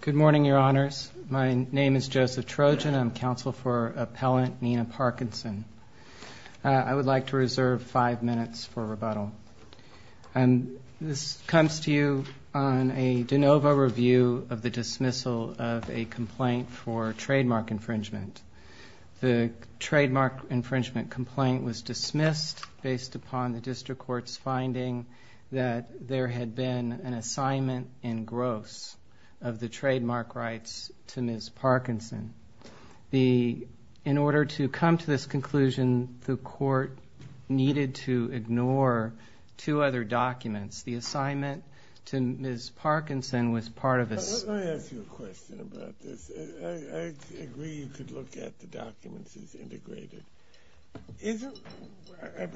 Good morning, Your Honors. My name is Joseph Trojan. I'm counsel for Appellant Nina Parkinson. I would like to reserve five minutes for rebuttal. This comes to you on a de novo review of the dismissal of a complaint for trademark infringement. The trademark infringement complaint was dismissed based upon the district court's finding that there had been an assignment in gross of the trademark rights to Ms. Parkinson. In order to come to this conclusion, the court needed to ignore two other documents. The assignment to Ms. Parkinson was part of a... Let me ask you a question about this. I agree you could look at the documents as integrated.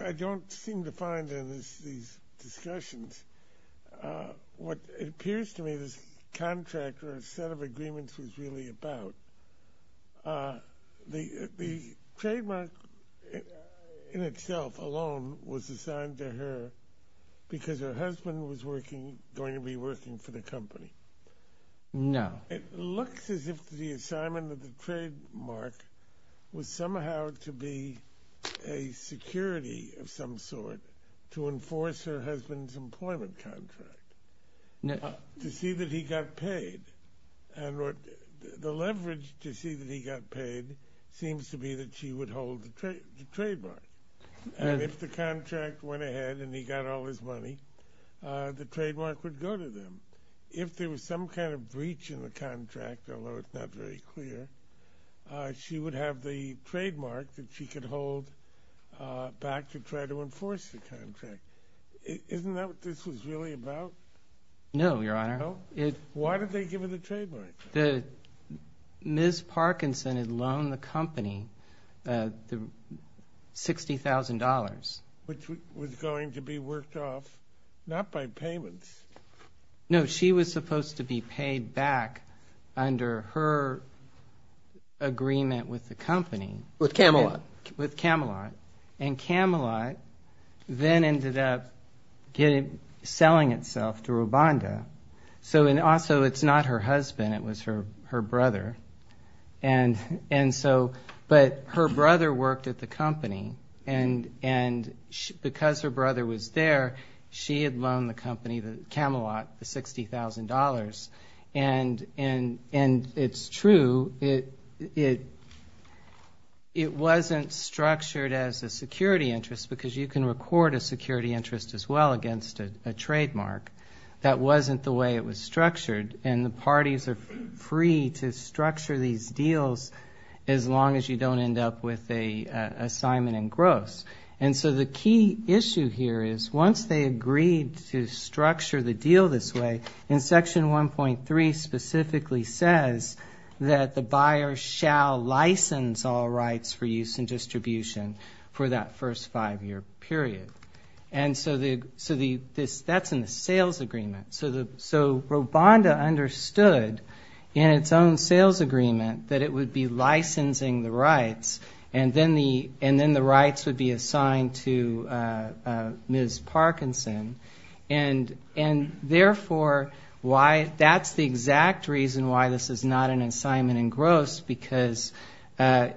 I don't seem to find in these discussions what it appears to me this contract or set of agreements was really about. The trademark in itself alone was assigned to her because her husband was going to be working for the company. No. It looks as if the assignment of the trademark was somehow to be a security issue. It was a security of some sort to enforce her husband's employment contract to see that he got paid. The leverage to see that he got paid seems to be that she would hold the trademark. If the contract went ahead and he got all his money, the trademark would go to them. If there was some kind of breach in the contract, although it's not very clear, she would have the trademark that she could hold back to try to enforce the contract. Isn't that what this was really about? No, Your Honor. Why did they give her the trademark? Ms. Parkinson had loaned the company $60,000. Which was going to be worked off, not by payments. No, she was supposed to be paid back under her agreement with the company. With Camelot. With Camelot. Camelot then ended up selling itself to Rwanda. Also, it's not her husband. It was her brother. Her brother worked at the company. Because her brother was there, she had loaned the company, Camelot, the $60,000. It's true. It wasn't structured as a security interest because you can record a security interest as well against a trademark. That wasn't the way it was structured. The parties are free to structure these deals as long as you don't end up with an assignment in gross. The key issue here is once they agreed to structure the deal this way, in section 1.3 specifically says that the buyer shall license all rights for use and distribution for that first five year period. That's in the sales agreement. Rwanda understood in its own sales agreement that it would be the rights. Then the rights would be assigned to Ms. Parkinson. Therefore, that's the exact reason why this is not an assignment in gross because the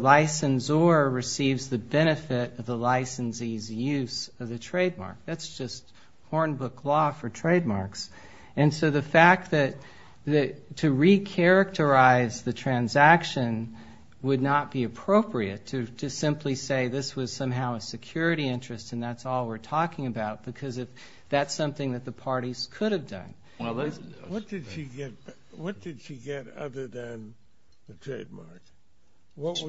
licensor receives the benefit of the licensee's use of the trademark. That's just Hornbook law for trademarks. The fact that to re-characterize the transaction would not be appropriate to simply say this was somehow a security interest and that's all we're talking about because that's something that the parties could have done. What did she get other than the trademark? Was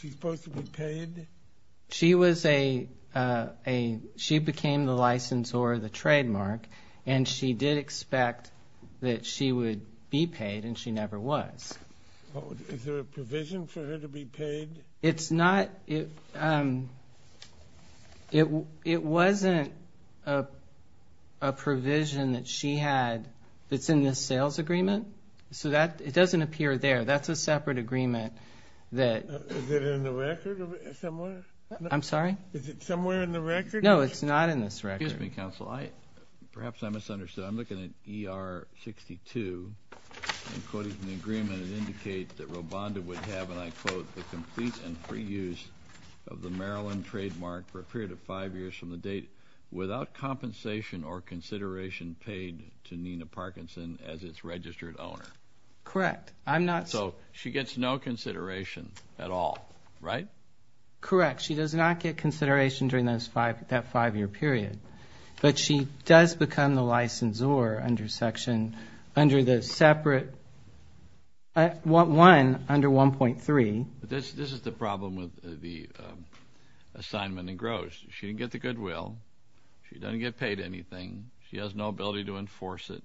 she supposed to be paid? She became the licensor of the trademark and she did expect that she would be paid and she never was. Is there a provision for her to be paid? It wasn't a provision that she had that's in the sales agreement. It doesn't appear there. That's a separate agreement. Is it somewhere in the record? No, it's not in this record. Excuse me, counsel. Perhaps I misunderstood. I'm looking at ER 62 and quoting from the agreement, it indicates that Rwanda would have, and I quote, the complete and free use of the Maryland trademark for a period of five years from the date without compensation or consideration paid to Nina Parkinson as its registered owner. Correct. I'm not... So, she gets no consideration at all, right? Correct. She does not get consideration during that five-year period, but she does become the licensor under section, under the separate, one under 1.3. This is the problem with the assignment in gross. She didn't get the goodwill. She doesn't get paid anything. She has no ability to enforce it.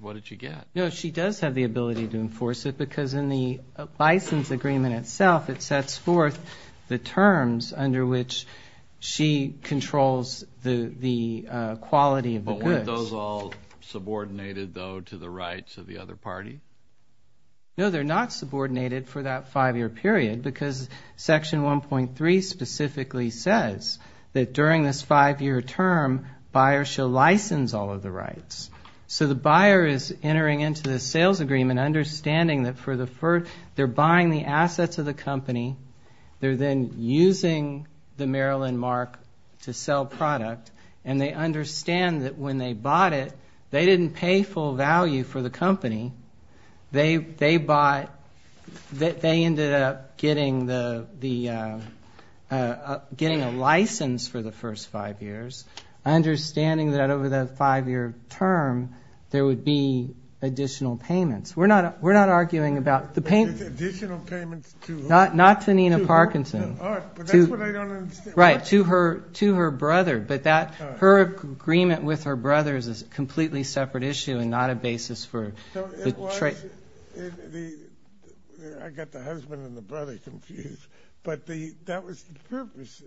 What did she get? No, she does have the ability to enforce it because in the license agreement itself, it sets forth the terms under which she controls the quality of the goods. But weren't those all subordinated, though, to the rights of the other party? No, they're not subordinated for that five-year period because section 1.3 specifically says that during this five-year term, buyers shall license all of the rights. So, the buyer is entering into the sales agreement, understanding that for the first... They're buying the assets of the company. They're then using the Maryland mark to sell product. And they understand that when they bought it, they didn't pay full value for the company. They bought... They ended up getting the... Understanding that over that five-year term, there would be additional payments. We're not arguing about the payments. Additional payments to who? Not to Nina Parkinson. All right, but that's what I don't understand. Right, to her brother. But that... Her agreement with her brother is a completely separate issue and not a basis for... So, it was... I got the husband and the brother confused. But that was the purpose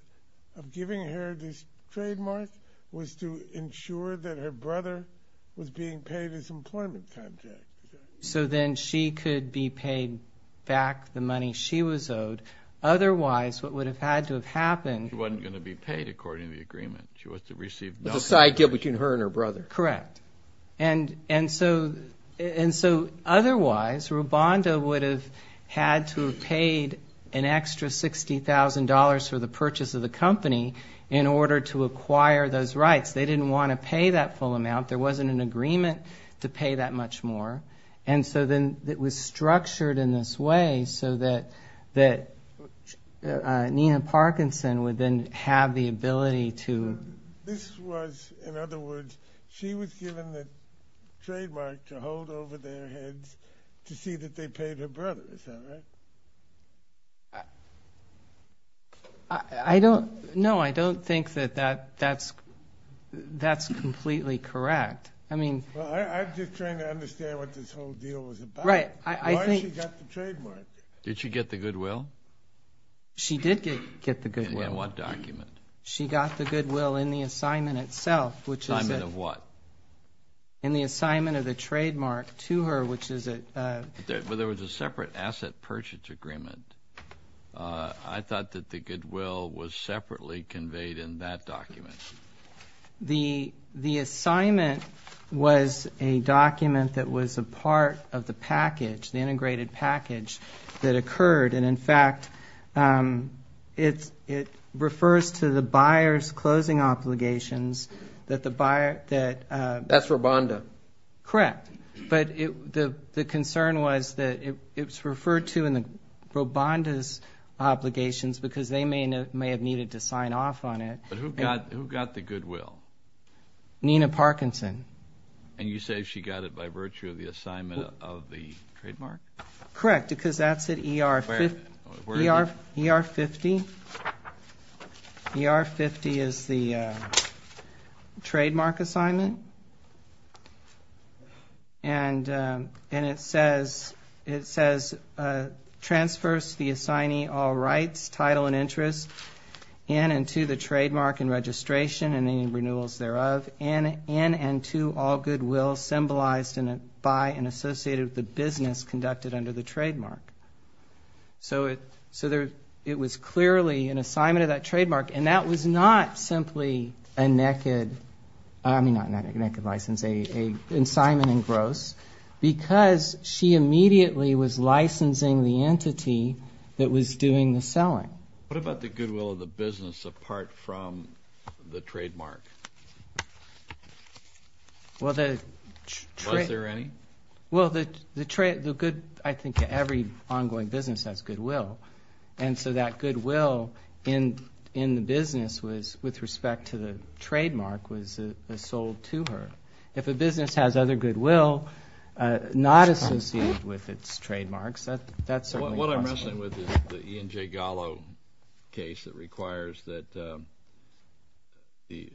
of giving her this trademark, was to ensure that her brother was being paid his employment contract. So, then she could be paid back the money she was owed. Otherwise, what would have had to have happened... She wasn't going to be paid according to the agreement. She was to receive... The side deal between her and her brother. Correct. And so, otherwise, Rubanda would have had to have paid an extra $60,000 for the purchase of the company in order to acquire those rights. They didn't want to pay that full amount. There wasn't an agreement to pay that much more. And so, then it was structured in this way, so that Nina Parkinson would then have the ability to... This was, in other words, she was given the trademark to hold over their heads to see that they paid her brother. Is that right? I don't... No, I don't think that that's completely correct. I mean... Well, I'm just trying to understand what this whole deal was about. Why she got the trademark? Did she get the goodwill? She did get the goodwill. In what document? She got the goodwill in the assignment itself, which is... Assignment of what? In the assignment of the trademark to her, which is... But there was a separate asset purchase agreement. I thought that the goodwill was separately conveyed in that document. The assignment was a document that was a part of the package, the integrated package that occurred. And, in fact, it refers to the buyer's closing obligations that the buyer... That's Robonda. Correct. But the concern was that it was referred to in Robonda's obligations because they may have needed to sign off on it. But who got the goodwill? Nina Parkinson. And you say she got it by virtue of the assignment of the trademark? Correct, because that's at ER 50. Where is it? ER 50. ER 50 is the trademark assignment. And it says, Transfers to the assignee all rights, title, and interests in and to the trademark and registration and any renewals thereof in and to all goodwill symbolized by and associated with the business conducted under the trademark. So it was clearly an assignment of that trademark. And that was not simply a naked... I mean, not a naked license, an assignment in gross because she immediately was licensing the entity that was doing the selling. What about the goodwill of the business apart from the trademark? Well, the... Was there any? Well, the good... I think every ongoing business has goodwill. And so that goodwill in the business was, with respect to the trademark, was sold to her. If a business has other goodwill not associated with its trademarks, that's certainly possible. What I'm wrestling with is the Ian J. Gallo case that requires that there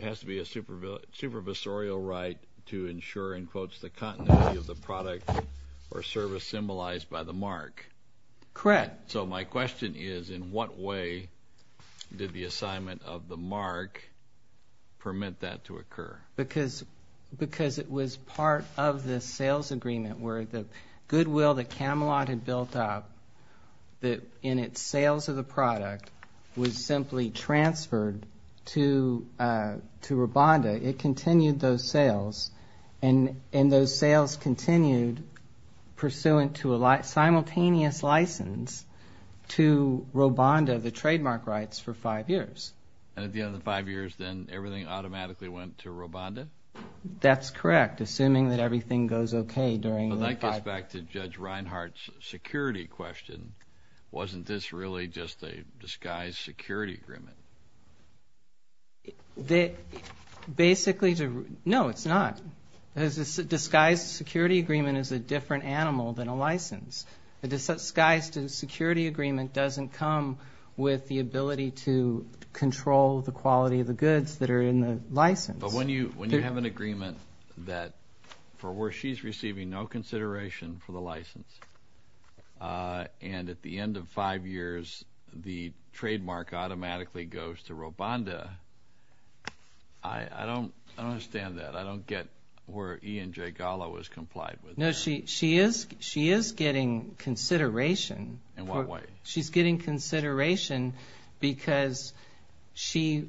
has to be a supervisorial right to ensure, in quotes, the continuity of the product or service symbolized by the mark. Correct. So my question is, in what way did the assignment of the mark permit that to occur? Because it was part of the sales agreement where the goodwill that Camelot had built up that in its sales of the product was simply transferred to Rwanda. It continued those sales, and those sales continued pursuant to a simultaneous license to Rwanda, the trademark rights, for five years. And at the end of the five years, then everything automatically went to Rwanda? That's correct, assuming that everything goes okay during the five... Well, that gets back to Judge Reinhart's security question. Wasn't this really just a disguised security agreement? Basically, no, it's not. A disguised security agreement is a different animal than a license. A disguised security agreement doesn't come with the ability to control the quality of the goods that are in the license. But when you have an agreement that, for where she's receiving, no consideration for the license, and at the end of five years, the trademark automatically goes to Rwanda, I don't understand that. I don't get where Ian J. Gallo has complied with that. No, she is getting consideration. In what way? She's getting consideration because she...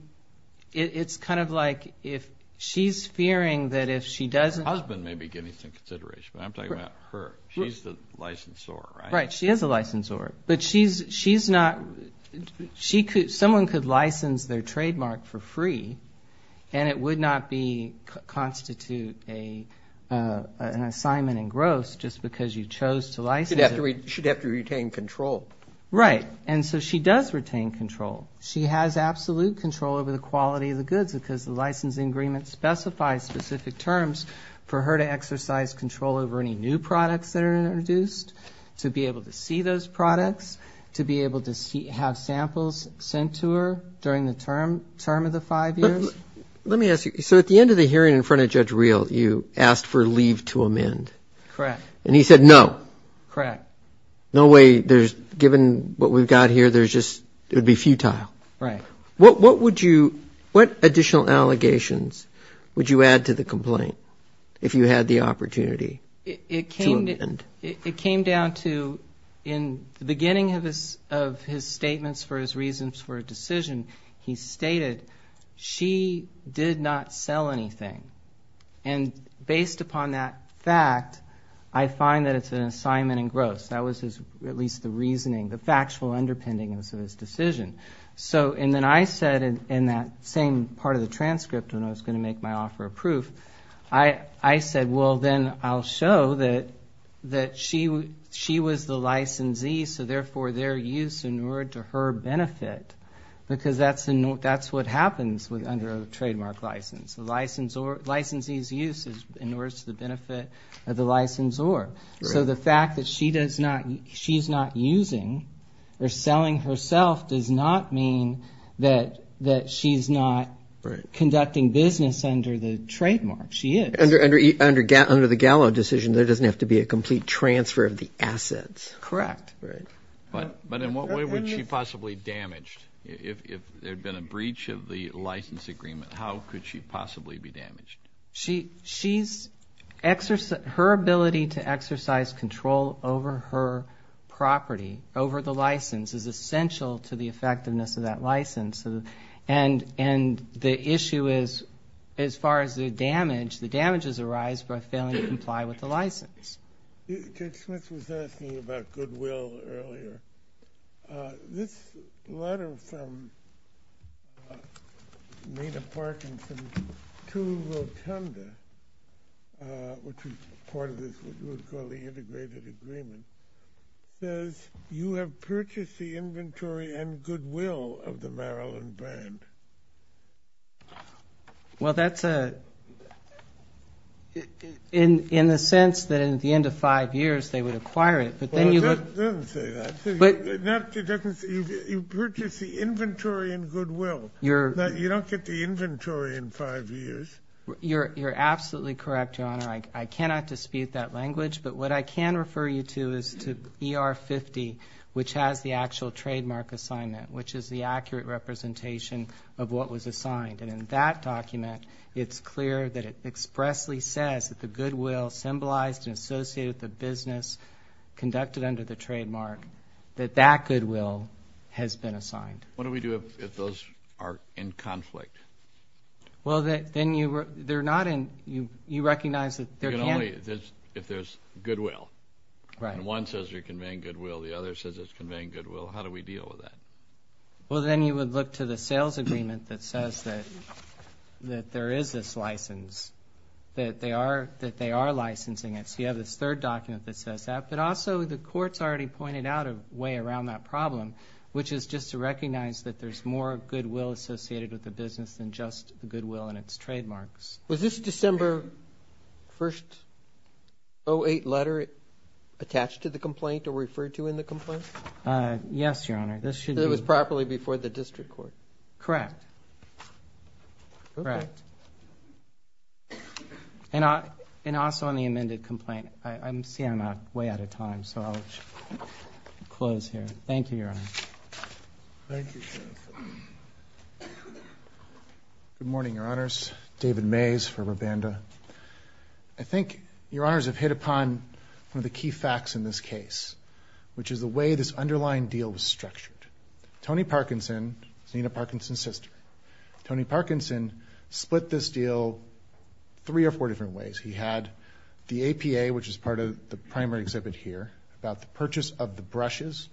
It's kind of like if she's fearing that if she doesn't... Her husband may be getting some consideration, but I'm talking about her. She's the licensor, right? Right, she is a licensor. But she's not... Someone could license their trademark for free and it would not constitute an assignment in gross just because you chose to license it. She'd have to retain control. Right, and so she does retain control. She has absolute control over the quality of the goods because the licensing agreement specifies specific terms for her to exercise control over any new products that are introduced, to be able to see those products, to be able to have samples sent to her during the term of the five years. Let me ask you, so at the end of the hearing in front of Judge Reel, you asked for leave to amend. Correct. And he said no. Correct. No way, there's... Given what we've got here, there's just... It would be futile. Right. What would you... What additional allegations would you add to the complaint if you had the opportunity? It came... To amend. It came down to, in the beginning of his statements for his reasons for a decision, he stated, she did not sell anything. And based upon that fact, I find that it's an assignment in gross. That was his, at least the reasoning, the factual underpinnings of his decision. So, and then I said, in that same part of the transcript when I was going to make my offer of proof, I said, well, then I'll show that she was the licensee, so therefore their use in order to her benefit, because that's what happens under a trademark license. The licensee's use is in order to the benefit of the licensor. So the fact that she's not using or selling herself does not mean that she's not conducting business under the trademark. She is. Under the Gallo decision, there doesn't have to be a complete transfer of the assets. Correct. But in what way would she possibly be damaged if there had been a breach of the license agreement? How could she possibly be damaged? She's... Her ability to exercise control over her property, over the license, is essential to the effectiveness of that license. And the issue is, as far as the damage, the damages arise by failing to comply with the license. Judge Smith was asking about goodwill earlier. This letter from Nina Parkinson to Rotunda, which was part of this, what we would call the integrated agreement, says, You have purchased the inventory and goodwill of the Maryland brand. Well, that's a... In the sense that at the end of five years, they would acquire it, but then you... It doesn't say that. It doesn't say... You've purchased the inventory and goodwill. You don't get the inventory in five years. You're absolutely correct, Your Honor. I cannot dispute that language, but what I can refer you to is to ER 50, which has the actual trademark assignment, which is the accurate representation of what was assigned. And in that document, it's clear that it expressly says that the goodwill symbolized and associated with the business conducted under the trademark, that that goodwill has been assigned. What do we do if those are in conflict? Well, then you... They're not in... You recognize that there can't... Only if there's goodwill. Right. And one says you're conveying goodwill. The other says it's conveying goodwill. How do we deal with that? Well, then you would look to the sales agreement that says that there is this license, that they are licensing it. So you have this third document that says that. But also, the court's already pointed out a way around that problem, which is just to recognize that there's more goodwill associated with the business than just the goodwill and its trademarks. Was this December 1st, 08 letter attached to the complaint or referred to in the complaint? Uh, yes, Your Honor. This should be... It was properly before the district court. Correct. Correct. Okay. And also on the amended complaint. I'm seeing I'm way out of time, so I'll just close here. Thank you, Your Honor. Thank you, counsel. Good morning, Your Honors. David Mays for Rabanda. I think Your Honors have hit upon one of the key facts in this case, which is the way this underlying deal was structured. Tony Parkinson, he's Nina Parkinson's sister, Tony Parkinson split this deal three or four different ways. He had the APA, which is part of the primary exhibit here, about the purchase of the brushes,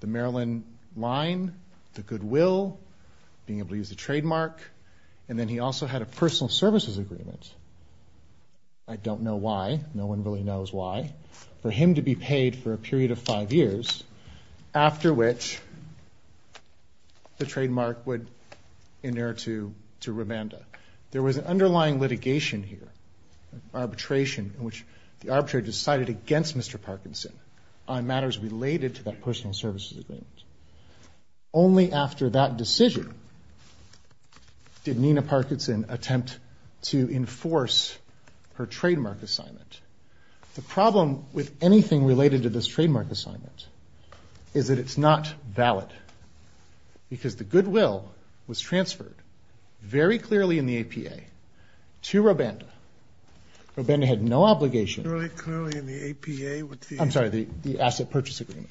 the Maryland line, the goodwill, being able to use the trademark, and then he also had a personal services agreement. I don't know why. No one really knows why. For him to be paid for a period of five years, after which the trademark would inert to Rabanda. There was an underlying litigation here, arbitration, in which the arbitrator decided against Mr. Parkinson on matters related to that personal services agreement. Only after that decision did Nina Parkinson attempt to enforce her trademark assignment. The problem with anything related to this trademark assignment is that it's not valid, because the goodwill was transferred very clearly in the APA to Rabanda. Rabanda had no obligation... Very clearly in the APA with the... I'm sorry, the asset purchase agreement.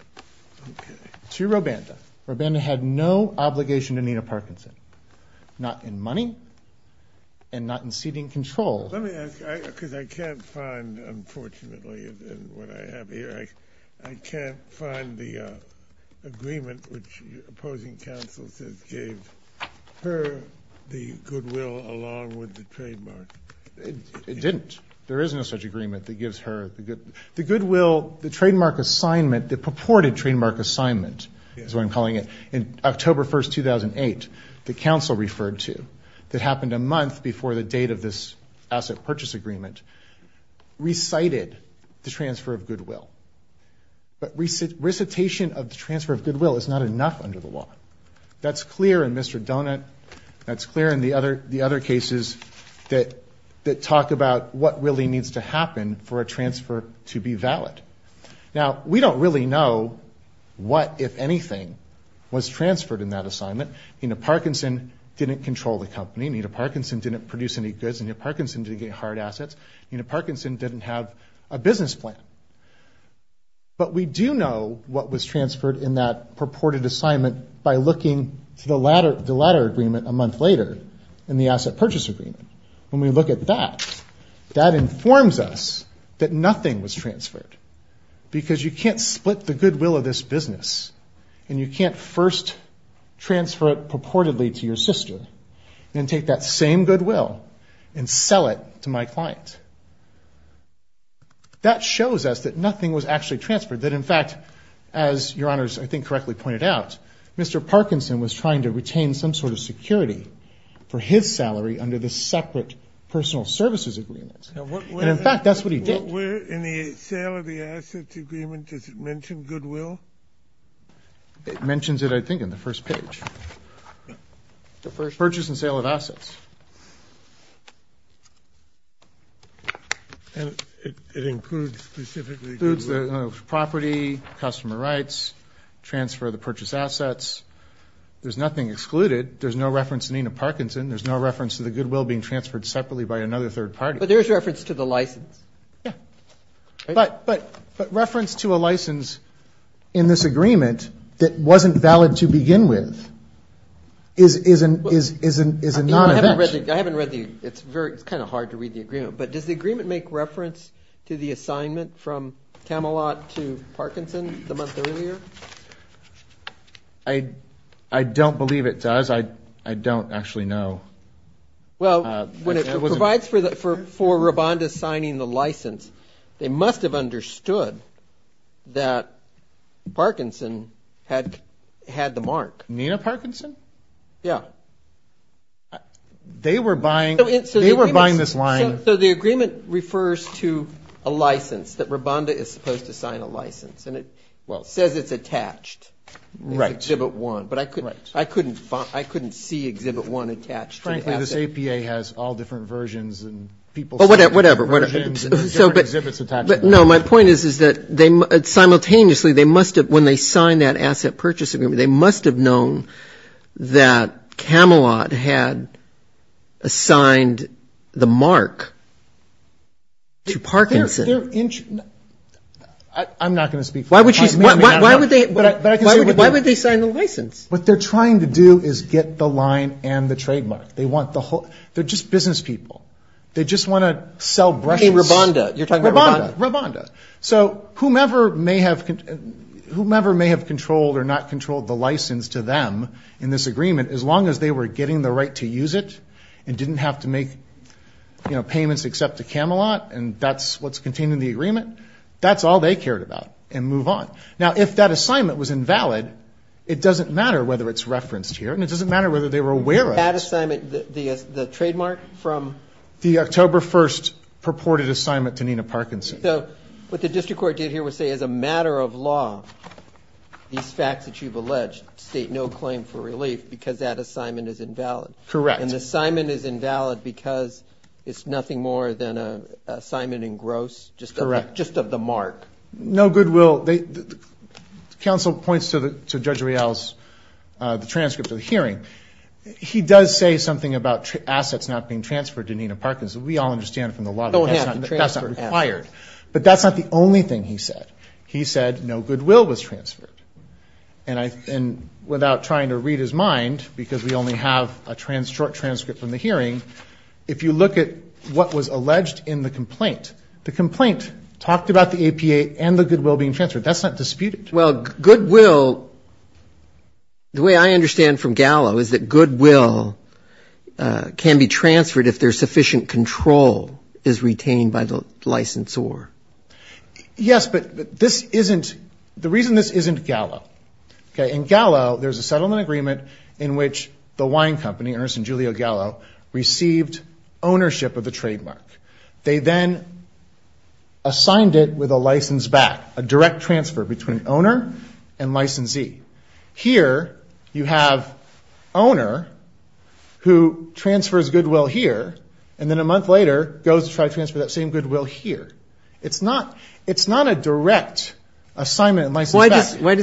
To Rabanda. Rabanda had no obligation to Nina Parkinson. Not in money, and not in ceding control. Let me ask you, because I can't find, unfortunately, in what I have here, I can't find the agreement which opposing counsel says gave her the goodwill along with the trademark. It didn't. There is no such agreement that gives her... The goodwill, the trademark assignment, the purported trademark assignment, is what I'm calling it, in October 1, 2008, the counsel referred to, that happened a month before the date of this asset purchase agreement, recited the transfer of goodwill. But recitation of the transfer of goodwill is not enough under the law. That's clear in Mr. Donut. That's clear in the other cases that talk about what really needs to happen for a transfer to be valid. Now, we don't really know what, if anything, was transferred in that assignment. Nina Parkinson didn't control the company. Nina Parkinson didn't produce any goods. Nina Parkinson didn't get hard assets. Nina Parkinson didn't have a business plan. But we do know what was transferred in that purported assignment by looking to the latter agreement a month later, in the asset purchase agreement. When we look at that, that informs us that nothing was transferred because you can't split the goodwill of this business and you can't first transfer it purportedly to your sister and take that same goodwill and sell it to my client. That shows us that nothing was actually transferred, that in fact, as your honors I think correctly pointed out, Mr. Parkinson was trying to retain some sort of security for his salary under the separate personal services agreement. And in fact, that's what he did. In the sale of the assets agreement, does it mention goodwill? It mentions it, I think, in the first page. Purchase and sale of assets. And it includes specifically goodwill? It includes property, customer rights, transfer of the purchased assets. There's nothing excluded. There's no reference to Nina Parkinson. There's no reference to the goodwill being transferred separately by another third party. But there's reference to the license. But reference to a license in this agreement that wasn't valid to begin with is a non-event. I haven't read the agreement. It's kind of hard to read the agreement. But does the agreement make reference to the assignment from Tamalot to Parkinson the month earlier? I don't believe it does. I don't actually know. Well, when it provides for Rabonda signing the license, they must have understood that Parkinson had the mark. Nina Parkinson? Yeah. They were buying this line. So the agreement refers to a license, that Rabonda is supposed to sign a license. And it says it's attached to Exhibit 1. But I couldn't see Exhibit 1 attached. Frankly, this APA has all different versions. Oh, whatever. No, my point is that simultaneously when they signed that asset purchase agreement they must have known that Tamalot had assigned the mark to Parkinson. But they're I'm not going to speak for them. Why would they sign the license? What they're trying to do is get the line and the trademark. They're just business people. They just want to sell Rabonda. So whomever may have controlled or not controlled the license to them in this agreement, as long as they were getting the right to use it and didn't have to make payments except to Tamalot and that's what's contained in the agreement that's all they cared about and move on. Now, if that assignment was invalid it doesn't matter whether it's referenced here and it doesn't matter whether they were aware of it. That assignment, the trademark from? The October 1st purported assignment to Nina Parkinson. So, what the District Court did here was say as a matter of law these facts that you've alleged state no claim for relief because that assignment is invalid. Correct. And the assignment is invalid because it's nothing more than an assignment in gross. Correct. Just of the mark. No goodwill. Council points to Judge Rial's transcript of the hearing. He does say something about assets not being transferred to Nina Parkinson. We all understand from the law that that's not required. But that's not the only thing he said. He said no goodwill was transferred. Without trying to read his mind because we only have a short transcript from the hearing if you look at what was alleged in the complaint, the complaint talked about the APA and the goodwill being transferred. That's not disputed. Well, goodwill the way I understand from Gallo is that goodwill can be transferred if there's sufficient control is retained by the licensor. Yes, but this isn't the reason this isn't Gallo In Gallo, there's a settlement agreement in which the wine company, Ernst and Giulio Gallo, received ownership of the trademark. They then assigned it with a license back. A direct transfer between owner and licensee. Here, you have owner who transfers goodwill here and then a month later goes to try to transfer that same goodwill here. It's not a direct assignment and license back. Why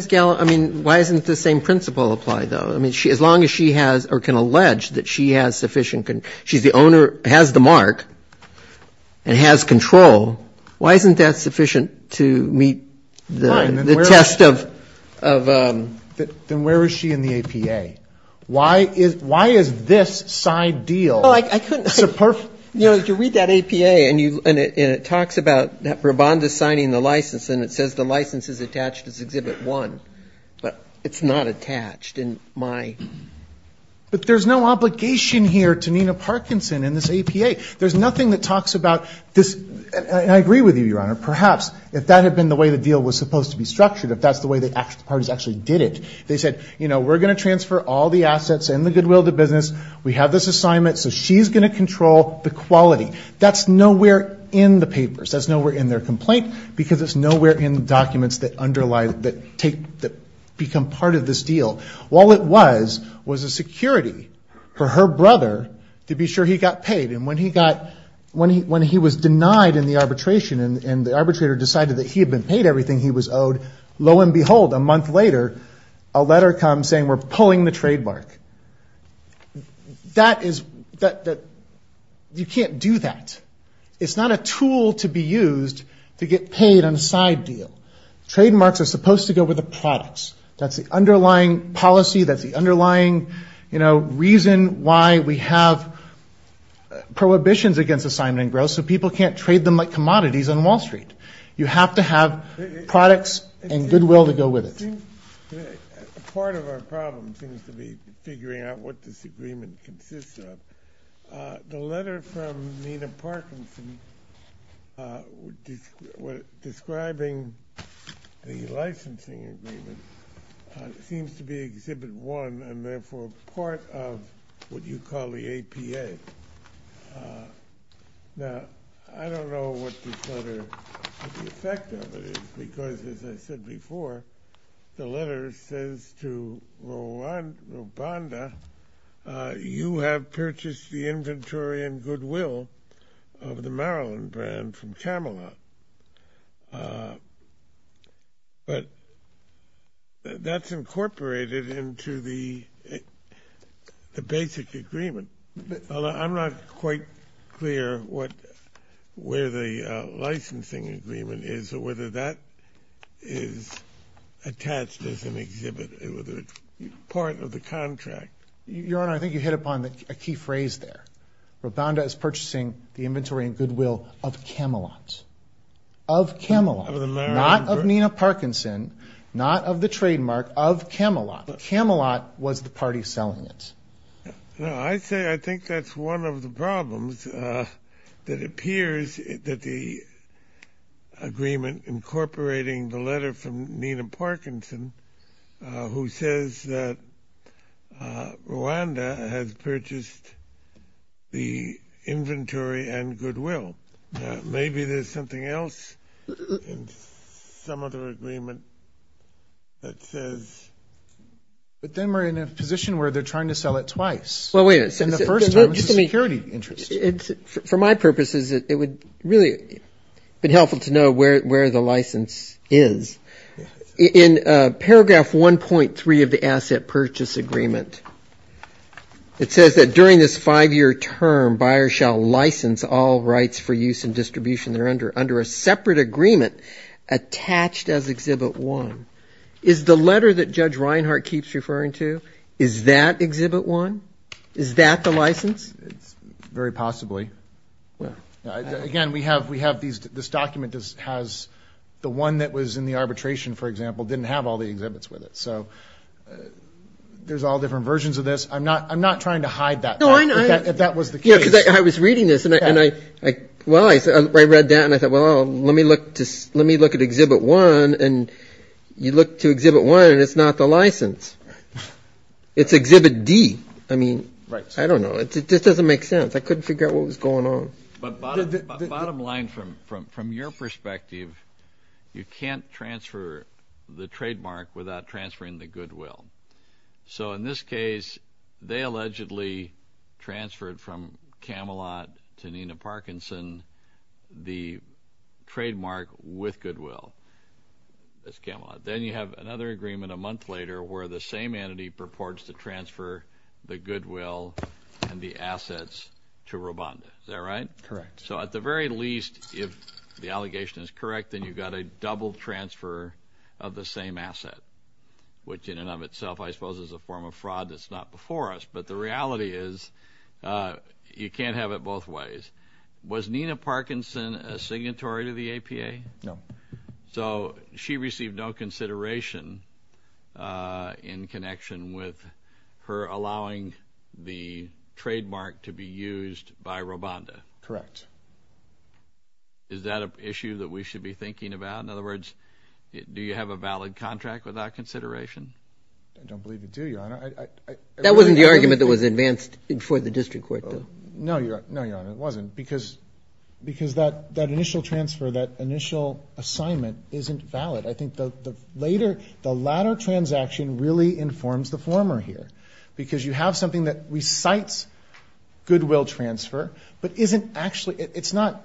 doesn't the same principle apply though? As long as she has or can allege that she has sufficient she's the owner, has the mark and has control why isn't that sufficient to meet the test of Then where is she in the APA? Why is this side deal You read that APA and it talks about Rabband is signing the license and it says the license is attached as Exhibit 1 but it's not attached in my But there's no obligation here to Nina Parkinson in this APA There's nothing that talks about I agree with you, Your Honor, perhaps if that had been the way the deal was supposed to be structured, if that's the way the parties actually did it they said, you know, we're going to transfer all the assets and the goodwill to business we have this assignment so she's going to control the quality. That's nowhere in the papers that's nowhere in their complaint because it's nowhere in the documents that become part of this deal All it was, was a security for her brother to be sure he got paid and when he was denied in the arbitration and the arbitrator decided that he had been paid everything he was owed lo and behold, a month later a letter comes saying we're pulling the trademark That is you can't do that. It's not a tool to be used to get paid on a side deal. Trademarks are supposed to go with the products that's the underlying policy that's the underlying reason why we have prohibitions against assignment and growth so people can't trade them like commodities on Wall Street. You have to have products and goodwill to go with it Part of our problem seems to be figuring out what this agreement consists of The letter from Nina Parkinson describing the licensing agreement seems to be Exhibit 1 and therefore part of what you call the APA Now I don't know what the effect of it is because as I said before the letter says to Robonda you have purchased the inventory and goodwill of the Maryland brand from Camelot That's incorporated into the basic agreement I'm not quite clear what where the licensing agreement is or whether that is attached as an extension of the contract I think you hit upon a key phrase there Robonda is purchasing the inventory and goodwill of Camelot Of Camelot Not of Nina Parkinson Not of the trademark of Camelot Camelot was the party selling it I say I think that's one of the problems that appears that the agreement incorporating the letter from Nina Parkinson who says that Robonda has purchased the inventory and goodwill maybe there's something else in some other agreement that says But then we're in a position where they're trying to sell it twice Well wait a second For my purposes it would really be helpful to know where the license is In paragraph 1.3 of the asset purchase agreement It says that during this five year term buyers shall license all rights for use and distribution under a separate agreement attached as exhibit one Is the letter that Judge Reinhart keeps referring to is that exhibit one? Is that the license? Very possibly Again we have this document has the one that was in the arbitration for example didn't have all the exhibits with it so there's all different versions of this I'm not trying to hide that I was reading this I read that and I thought let me look at exhibit one and you look to exhibit one and it's not the license It's exhibit D I don't know It just doesn't make sense I couldn't figure out what was going on Bottom line from your perspective you can't transfer the trademark without transferring the goodwill So in this case they allegedly transferred from Camelot to Nina Parkinson the trademark with goodwill Then you have another agreement a month later where the same entity purports to transfer the goodwill and the assets to Robonda So at the very least if the allegation is correct then you've got a double transfer of the same asset which in and of itself I suppose is a form of fraud that's not before us but the reality is you can't have it both ways Was Nina Parkinson a signatory to the APA? No So she received no consideration in connection with her allowing the trademark to be used by Robonda Is that an issue that we should be thinking about? Do you have a valid contract with that consideration? I don't believe we do That wasn't the argument that was advanced before the district court No it wasn't because that initial transfer that initial assignment isn't valid The latter transaction really informs the former because you have something that recites goodwill transfer but it's not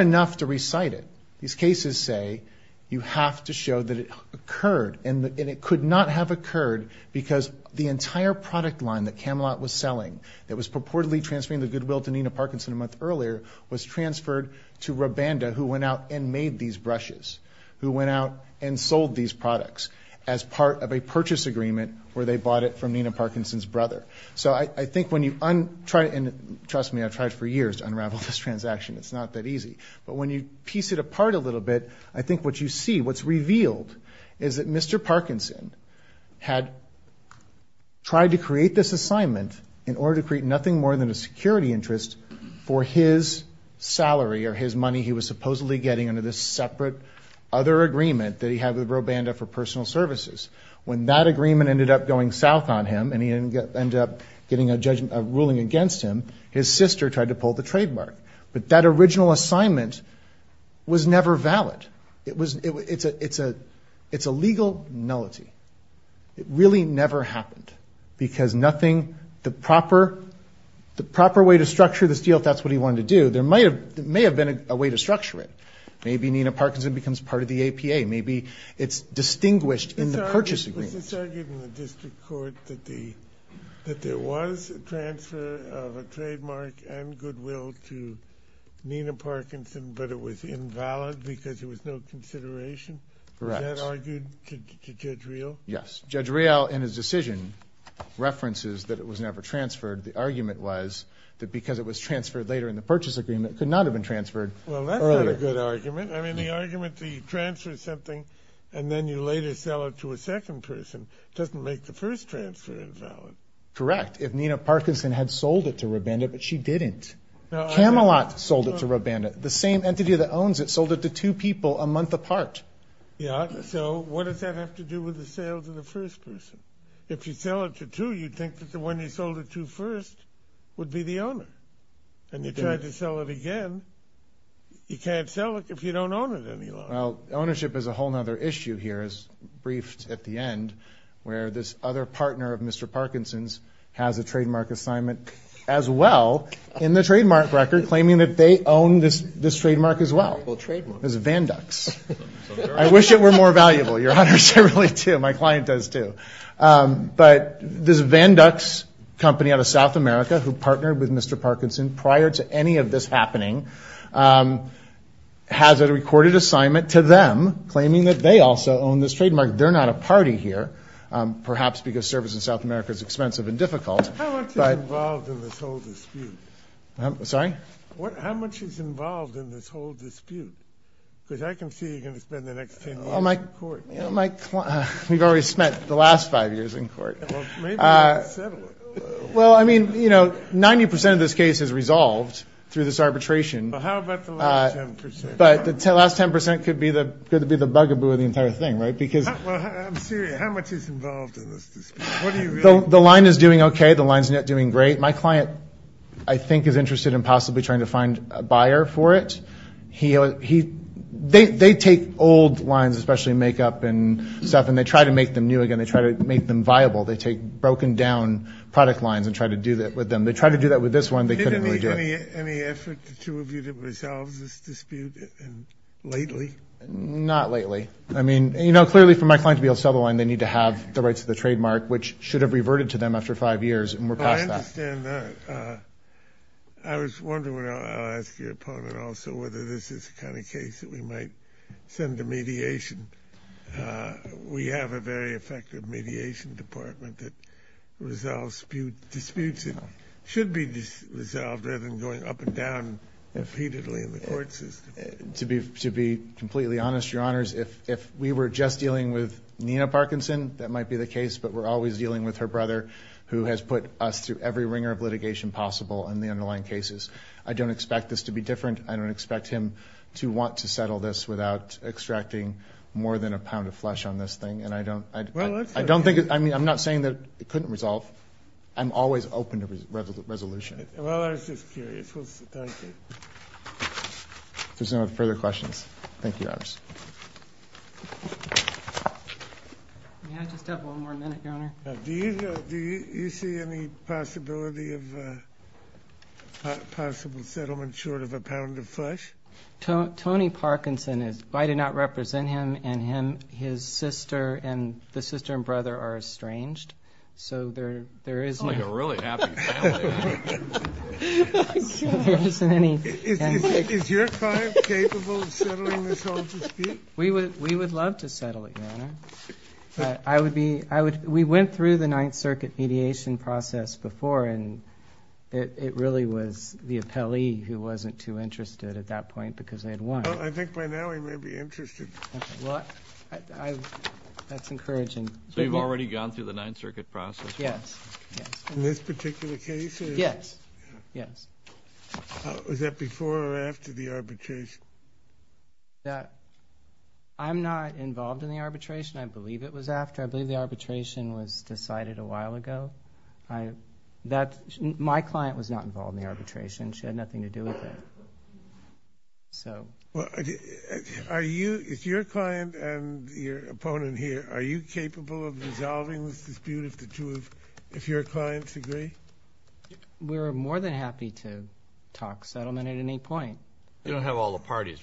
enough to recite it These cases say you have to show that it occurred and it could not have occurred because the entire product line that Camelot was selling that was purportedly transferring the goodwill to Nina Parkinson a month earlier was transferred to Robonda who went out and made these brushes who went out and sold these products as part of a purchase agreement where they bought it from Nina Parkinson's brother So I think when you and trust me I've tried for years to unravel this transaction, it's not that easy but when you piece it apart a little bit I think what you see, what's revealed is that Mr. Parkinson had tried to create this assignment in order to create nothing more than a security interest for his salary or his money he was supposedly getting under this separate other agreement that he had with Robonda for personal services. When that agreement ended up going south on him and he ended up getting a ruling against him, his sister tried to pull the trademark. But that original assignment was never valid It's a legal nullity It really never happened because nothing the proper way to structure this deal if that's what he wanted to do there may have been a way to structure it maybe Nina Parkinson becomes part of the APA maybe it's distinguished in the purchase agreement Was this argued in the district court that there was a transfer of a trademark and goodwill to Nina Parkinson but it was invalid because there was no consideration? Correct. Was that argued to Judge Real? Yes. Judge Real in his decision references that it was never transferred the argument was that because it was transferred later in the purchase agreement it could not have been transferred earlier That's not a good argument. The argument that you transfer something and then you later sell it to a second person doesn't make the first transfer invalid Correct. If Nina Parkinson had sold it to Robonda but she didn't Camelot sold it to Robonda the same entity that owns it sold it to two people a month apart So what does that have to do with the sales of the first person? If you sell it to you'd think that the one you sold it to first would be the owner and you try to sell it again you can't sell it if you don't own it any longer. Well, ownership is a whole other issue here as briefed at the end where this other partner of Mr. Parkinson's has a trademark assignment as well in the trademark record claiming that they own this trademark as well Well, trademark. It's a Vandux I wish it were more valuable Your Honor, I really do. My client does too But this Vandux company out of South America who partnered with Mr. Parkinson prior to any of this happening has a recorded assignment to them claiming that they also own this trademark. They're not a party here, perhaps because service in South America is expensive and difficult How much is involved in this whole dispute? Sorry? How much is involved in this whole dispute? Because I can see you're going to spend the next ten years in court We've already spent the last five years in court Well, I mean 90% of this case is resolved through this arbitration How about the last 10%? The last 10% could be the bugaboo of the entire thing I'm serious. How much is involved in this dispute? The line is doing okay The line's not doing great. My client I think is interested in possibly trying to find a buyer for it They take old lines, especially make-up and stuff, and they try to make them new again They try to make them viable. They take broken-down product lines and try to do that with them They tried to do that with this one, they couldn't really do it Did it need any effort, the two of you, to resolve this dispute lately? Not lately I mean, you know, clearly for my client to be able to sell the line they need to have the rights to the trademark which should have reverted to them after five years and we're past that I was wondering I'll ask your opponent also whether this is the kind of case that we might send to mediation We have a very effective mediation department that resolves disputes that should be resolved rather than going up and down repeatedly in the court system To be completely honest, your honors if we were just dealing with Nina Parkinson that might be the case, but we're always dealing with her brother who has put us through every ringer of litigation possible in the underlying cases. I don't expect this to be different, I don't expect him to want to settle this without extracting more than a pound of flesh on this thing, and I don't I'm not saying that it couldn't resolve I'm always open to resolution Well, I was just curious If there's no further questions Thank you, Your Honors May I just have one more minute, Your Honor Do you see any possibility of possible settlement short of a pound of flesh? Tony Parkinson, if I did not represent him and his sister and the sister and brother are estranged so there is I'm like a really happy family Is your tribe capable of settling this whole dispute? We would love to settle it Your Honor We went through the Ninth Circuit mediation process before and it really was the appellee who wasn't too interested at that point because they had won I think by now he may be interested Well that's encouraging So you've already gone through the Ninth Circuit process? Yes In this particular case? Yes Was that before or after the arbitration? I'm not involved in the arbitration, I believe it was after I believe the arbitration was decided a while ago My client was not involved in the arbitration, she had nothing to do with it So Are you your client and your opponent here, are you capable of resolving this dispute if the two of your clients agree? We're more than happy to talk settlement at any point You don't have all the parties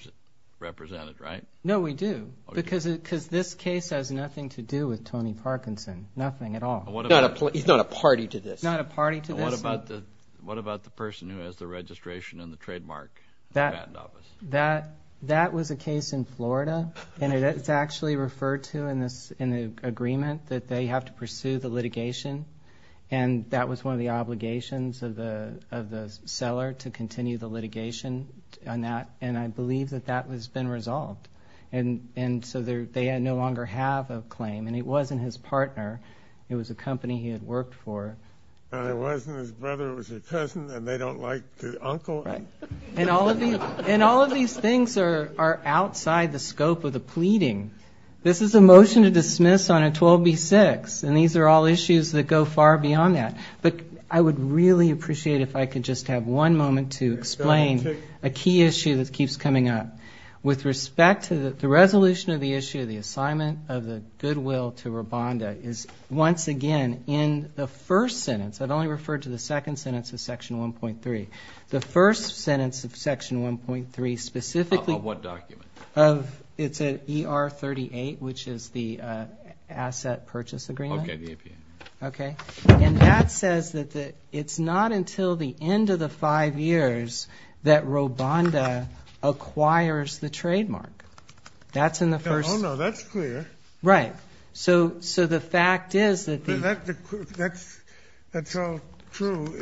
represented right? No we do because this case has nothing to do with He's not a party to this What about the person who has the registration and the trademark in the patent office? That was a case in Florida and it's actually referred to in the agreement that they have to pursue the litigation and that was one of the obligations of the seller to continue the litigation and I believe that that has been resolved and so they no longer have a claim and it wasn't his partner it was a company he had worked for and it wasn't his brother, it was his cousin and they don't like the uncle and all of these things are outside the scope of the pleading This is a motion to dismiss on a 12B6 and these are all issues that go far beyond that but I would really appreciate if I could just have one moment to explain a key issue that keeps coming up with respect to the resolution of the issue of the assignment of the goodwill to Robonda is once again in the first sentence, I've only referred to the second sentence of section 1.3 the first sentence of section 1.3 specifically it's at ER38 which is the asset purchase agreement and that says that it's not until the end of the five years that Robonda acquires the trademark Oh no, that's clear So the fact is that's all true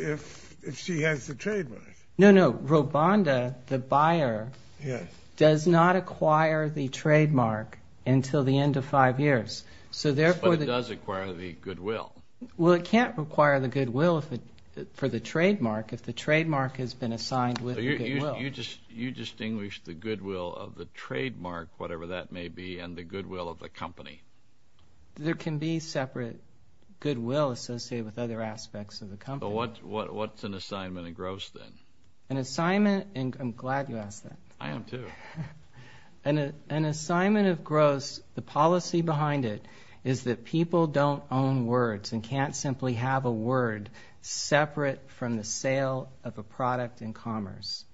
if she has the trademark No, no, Robonda, the buyer does not acquire the trademark until the end of five years But it does acquire the goodwill Well it can't acquire the goodwill for the trademark if the trademark has been assigned with the goodwill You distinguish the goodwill of the trademark, whatever that may be, and the goodwill of the company There can be separate goodwill associated with other aspects of the company What's an assignment of gross then? An assignment, and I'm glad you asked that I am too An assignment of gross the policy behind it is that people don't own words and can't simply have a word separate from the sale of a product in commerce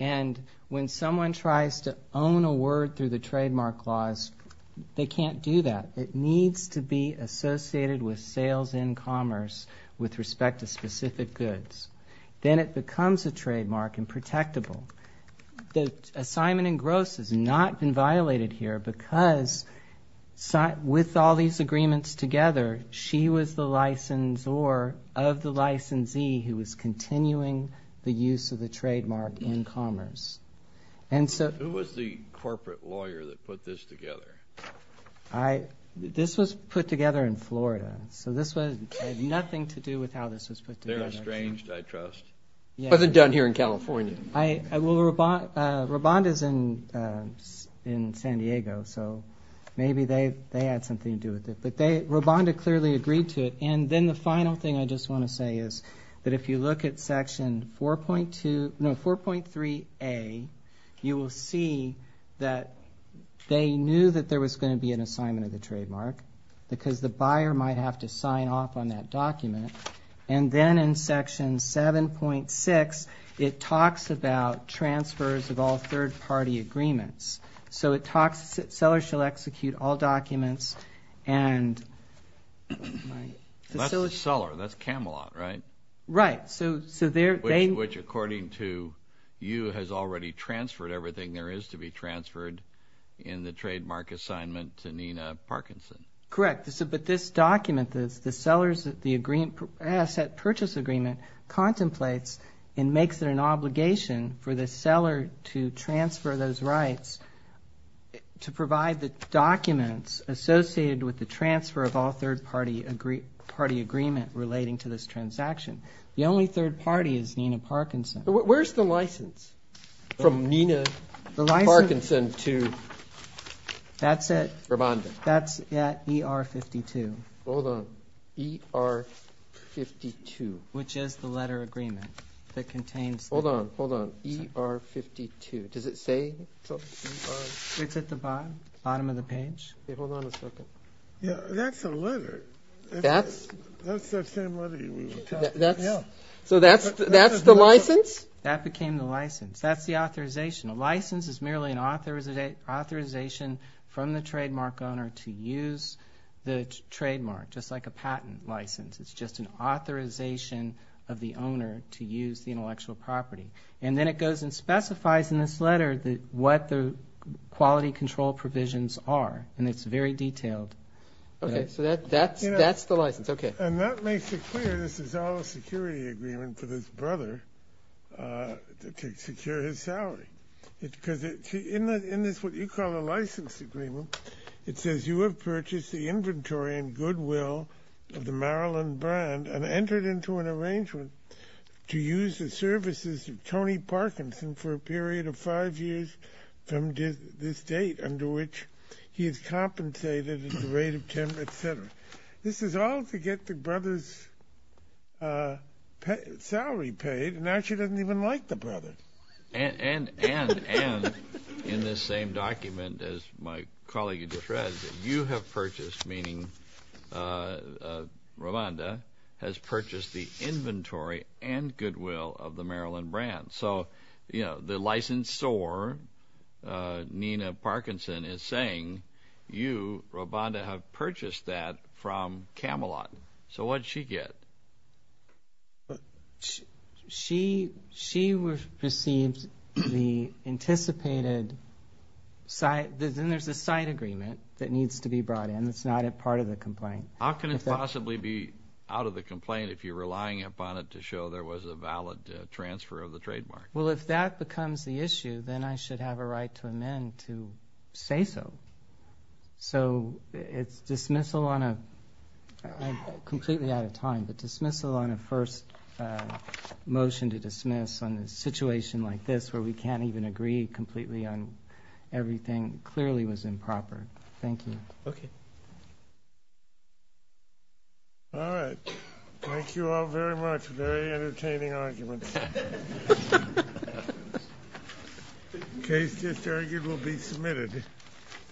And when someone tries to own a word through the trademark clause, they can't do that It needs to be associated with sales in commerce with respect to specific goods Then it becomes a trademark and protectable The assignment in gross has not been violated here because with all these agreements together, she was the licensor of the licensee who was continuing the use of the trademark in commerce Who was the corporate lawyer that put this together? This was put together in Florida So this had nothing to do with how this was put together It wasn't done here in California Rabonda's in San Diego Maybe they had something to do with it Rabonda clearly agreed to it And then the final thing I just want to say is that if you look at section 4.2, no, 4.3A you will see that they knew that there was going to be an assignment of the trademark because the buyer might have to sign off on that document And then in section 7.6 it talks about transfers of all third party agreements So it talks, sellers shall execute all documents and That's the seller That's Camelot, right? Which according to you has already transferred everything there is to be transferred in the trademark assignment to Nina Parkinson Correct, but this document, the agreement contemplates and makes it an obligation for the seller to transfer those rights to provide the documents associated with the transfer of all third party agreement relating to this transaction. The only third party is Nina Parkinson. Where's the license from Nina Parkinson to Rabonda That's at ER52 Hold on, ER 52 Which is the letter agreement that contains Hold on, hold on, ER52 Does it say It's at the bottom of the page Hold on a second That's the letter That's the same letter So that's the license? That became the license That's the authorization. A license is merely an authorization from the trademark owner to use the trademark just like a patent license. It's just an authorization of the owner to use the intellectual property And then it goes and specifies in this letter what the quality control provisions are and it's very detailed So that's the license And that makes it clear this is all a security agreement for this brother to secure his salary In this, what you call a license agreement, it says you have purchased the inventory and goodwill of the Maryland brand and entered into an arrangement to use the services of Tony Parkinson for a period of five years from this date under which he is compensated at the rate of ten, etc. This is all to get the brother's salary paid and now she doesn't even like the brother And in this same document as my colleague just read you have purchased, meaning Romanda has purchased the inventory and goodwill of the Maryland brand. So, you know, the licensor Nina Parkinson is saying you, Romanda, have purchased that from Camelot So what did she get? She received the anticipated Then there's a side agreement that needs to be brought in. It's not a part of the complaint How can it possibly be out of the complaint if you're relying upon it to show there was a valid transfer of the trademark? Well, if that becomes the issue, then I should have a right to amend to say so So it's dismissal on a I'm completely out of time, but dismissal on a first motion to dismiss on a situation like this where we can't even agree completely on everything clearly was improper. Thank you All right Thank you all very much Very entertaining arguments Case just argued will be submitted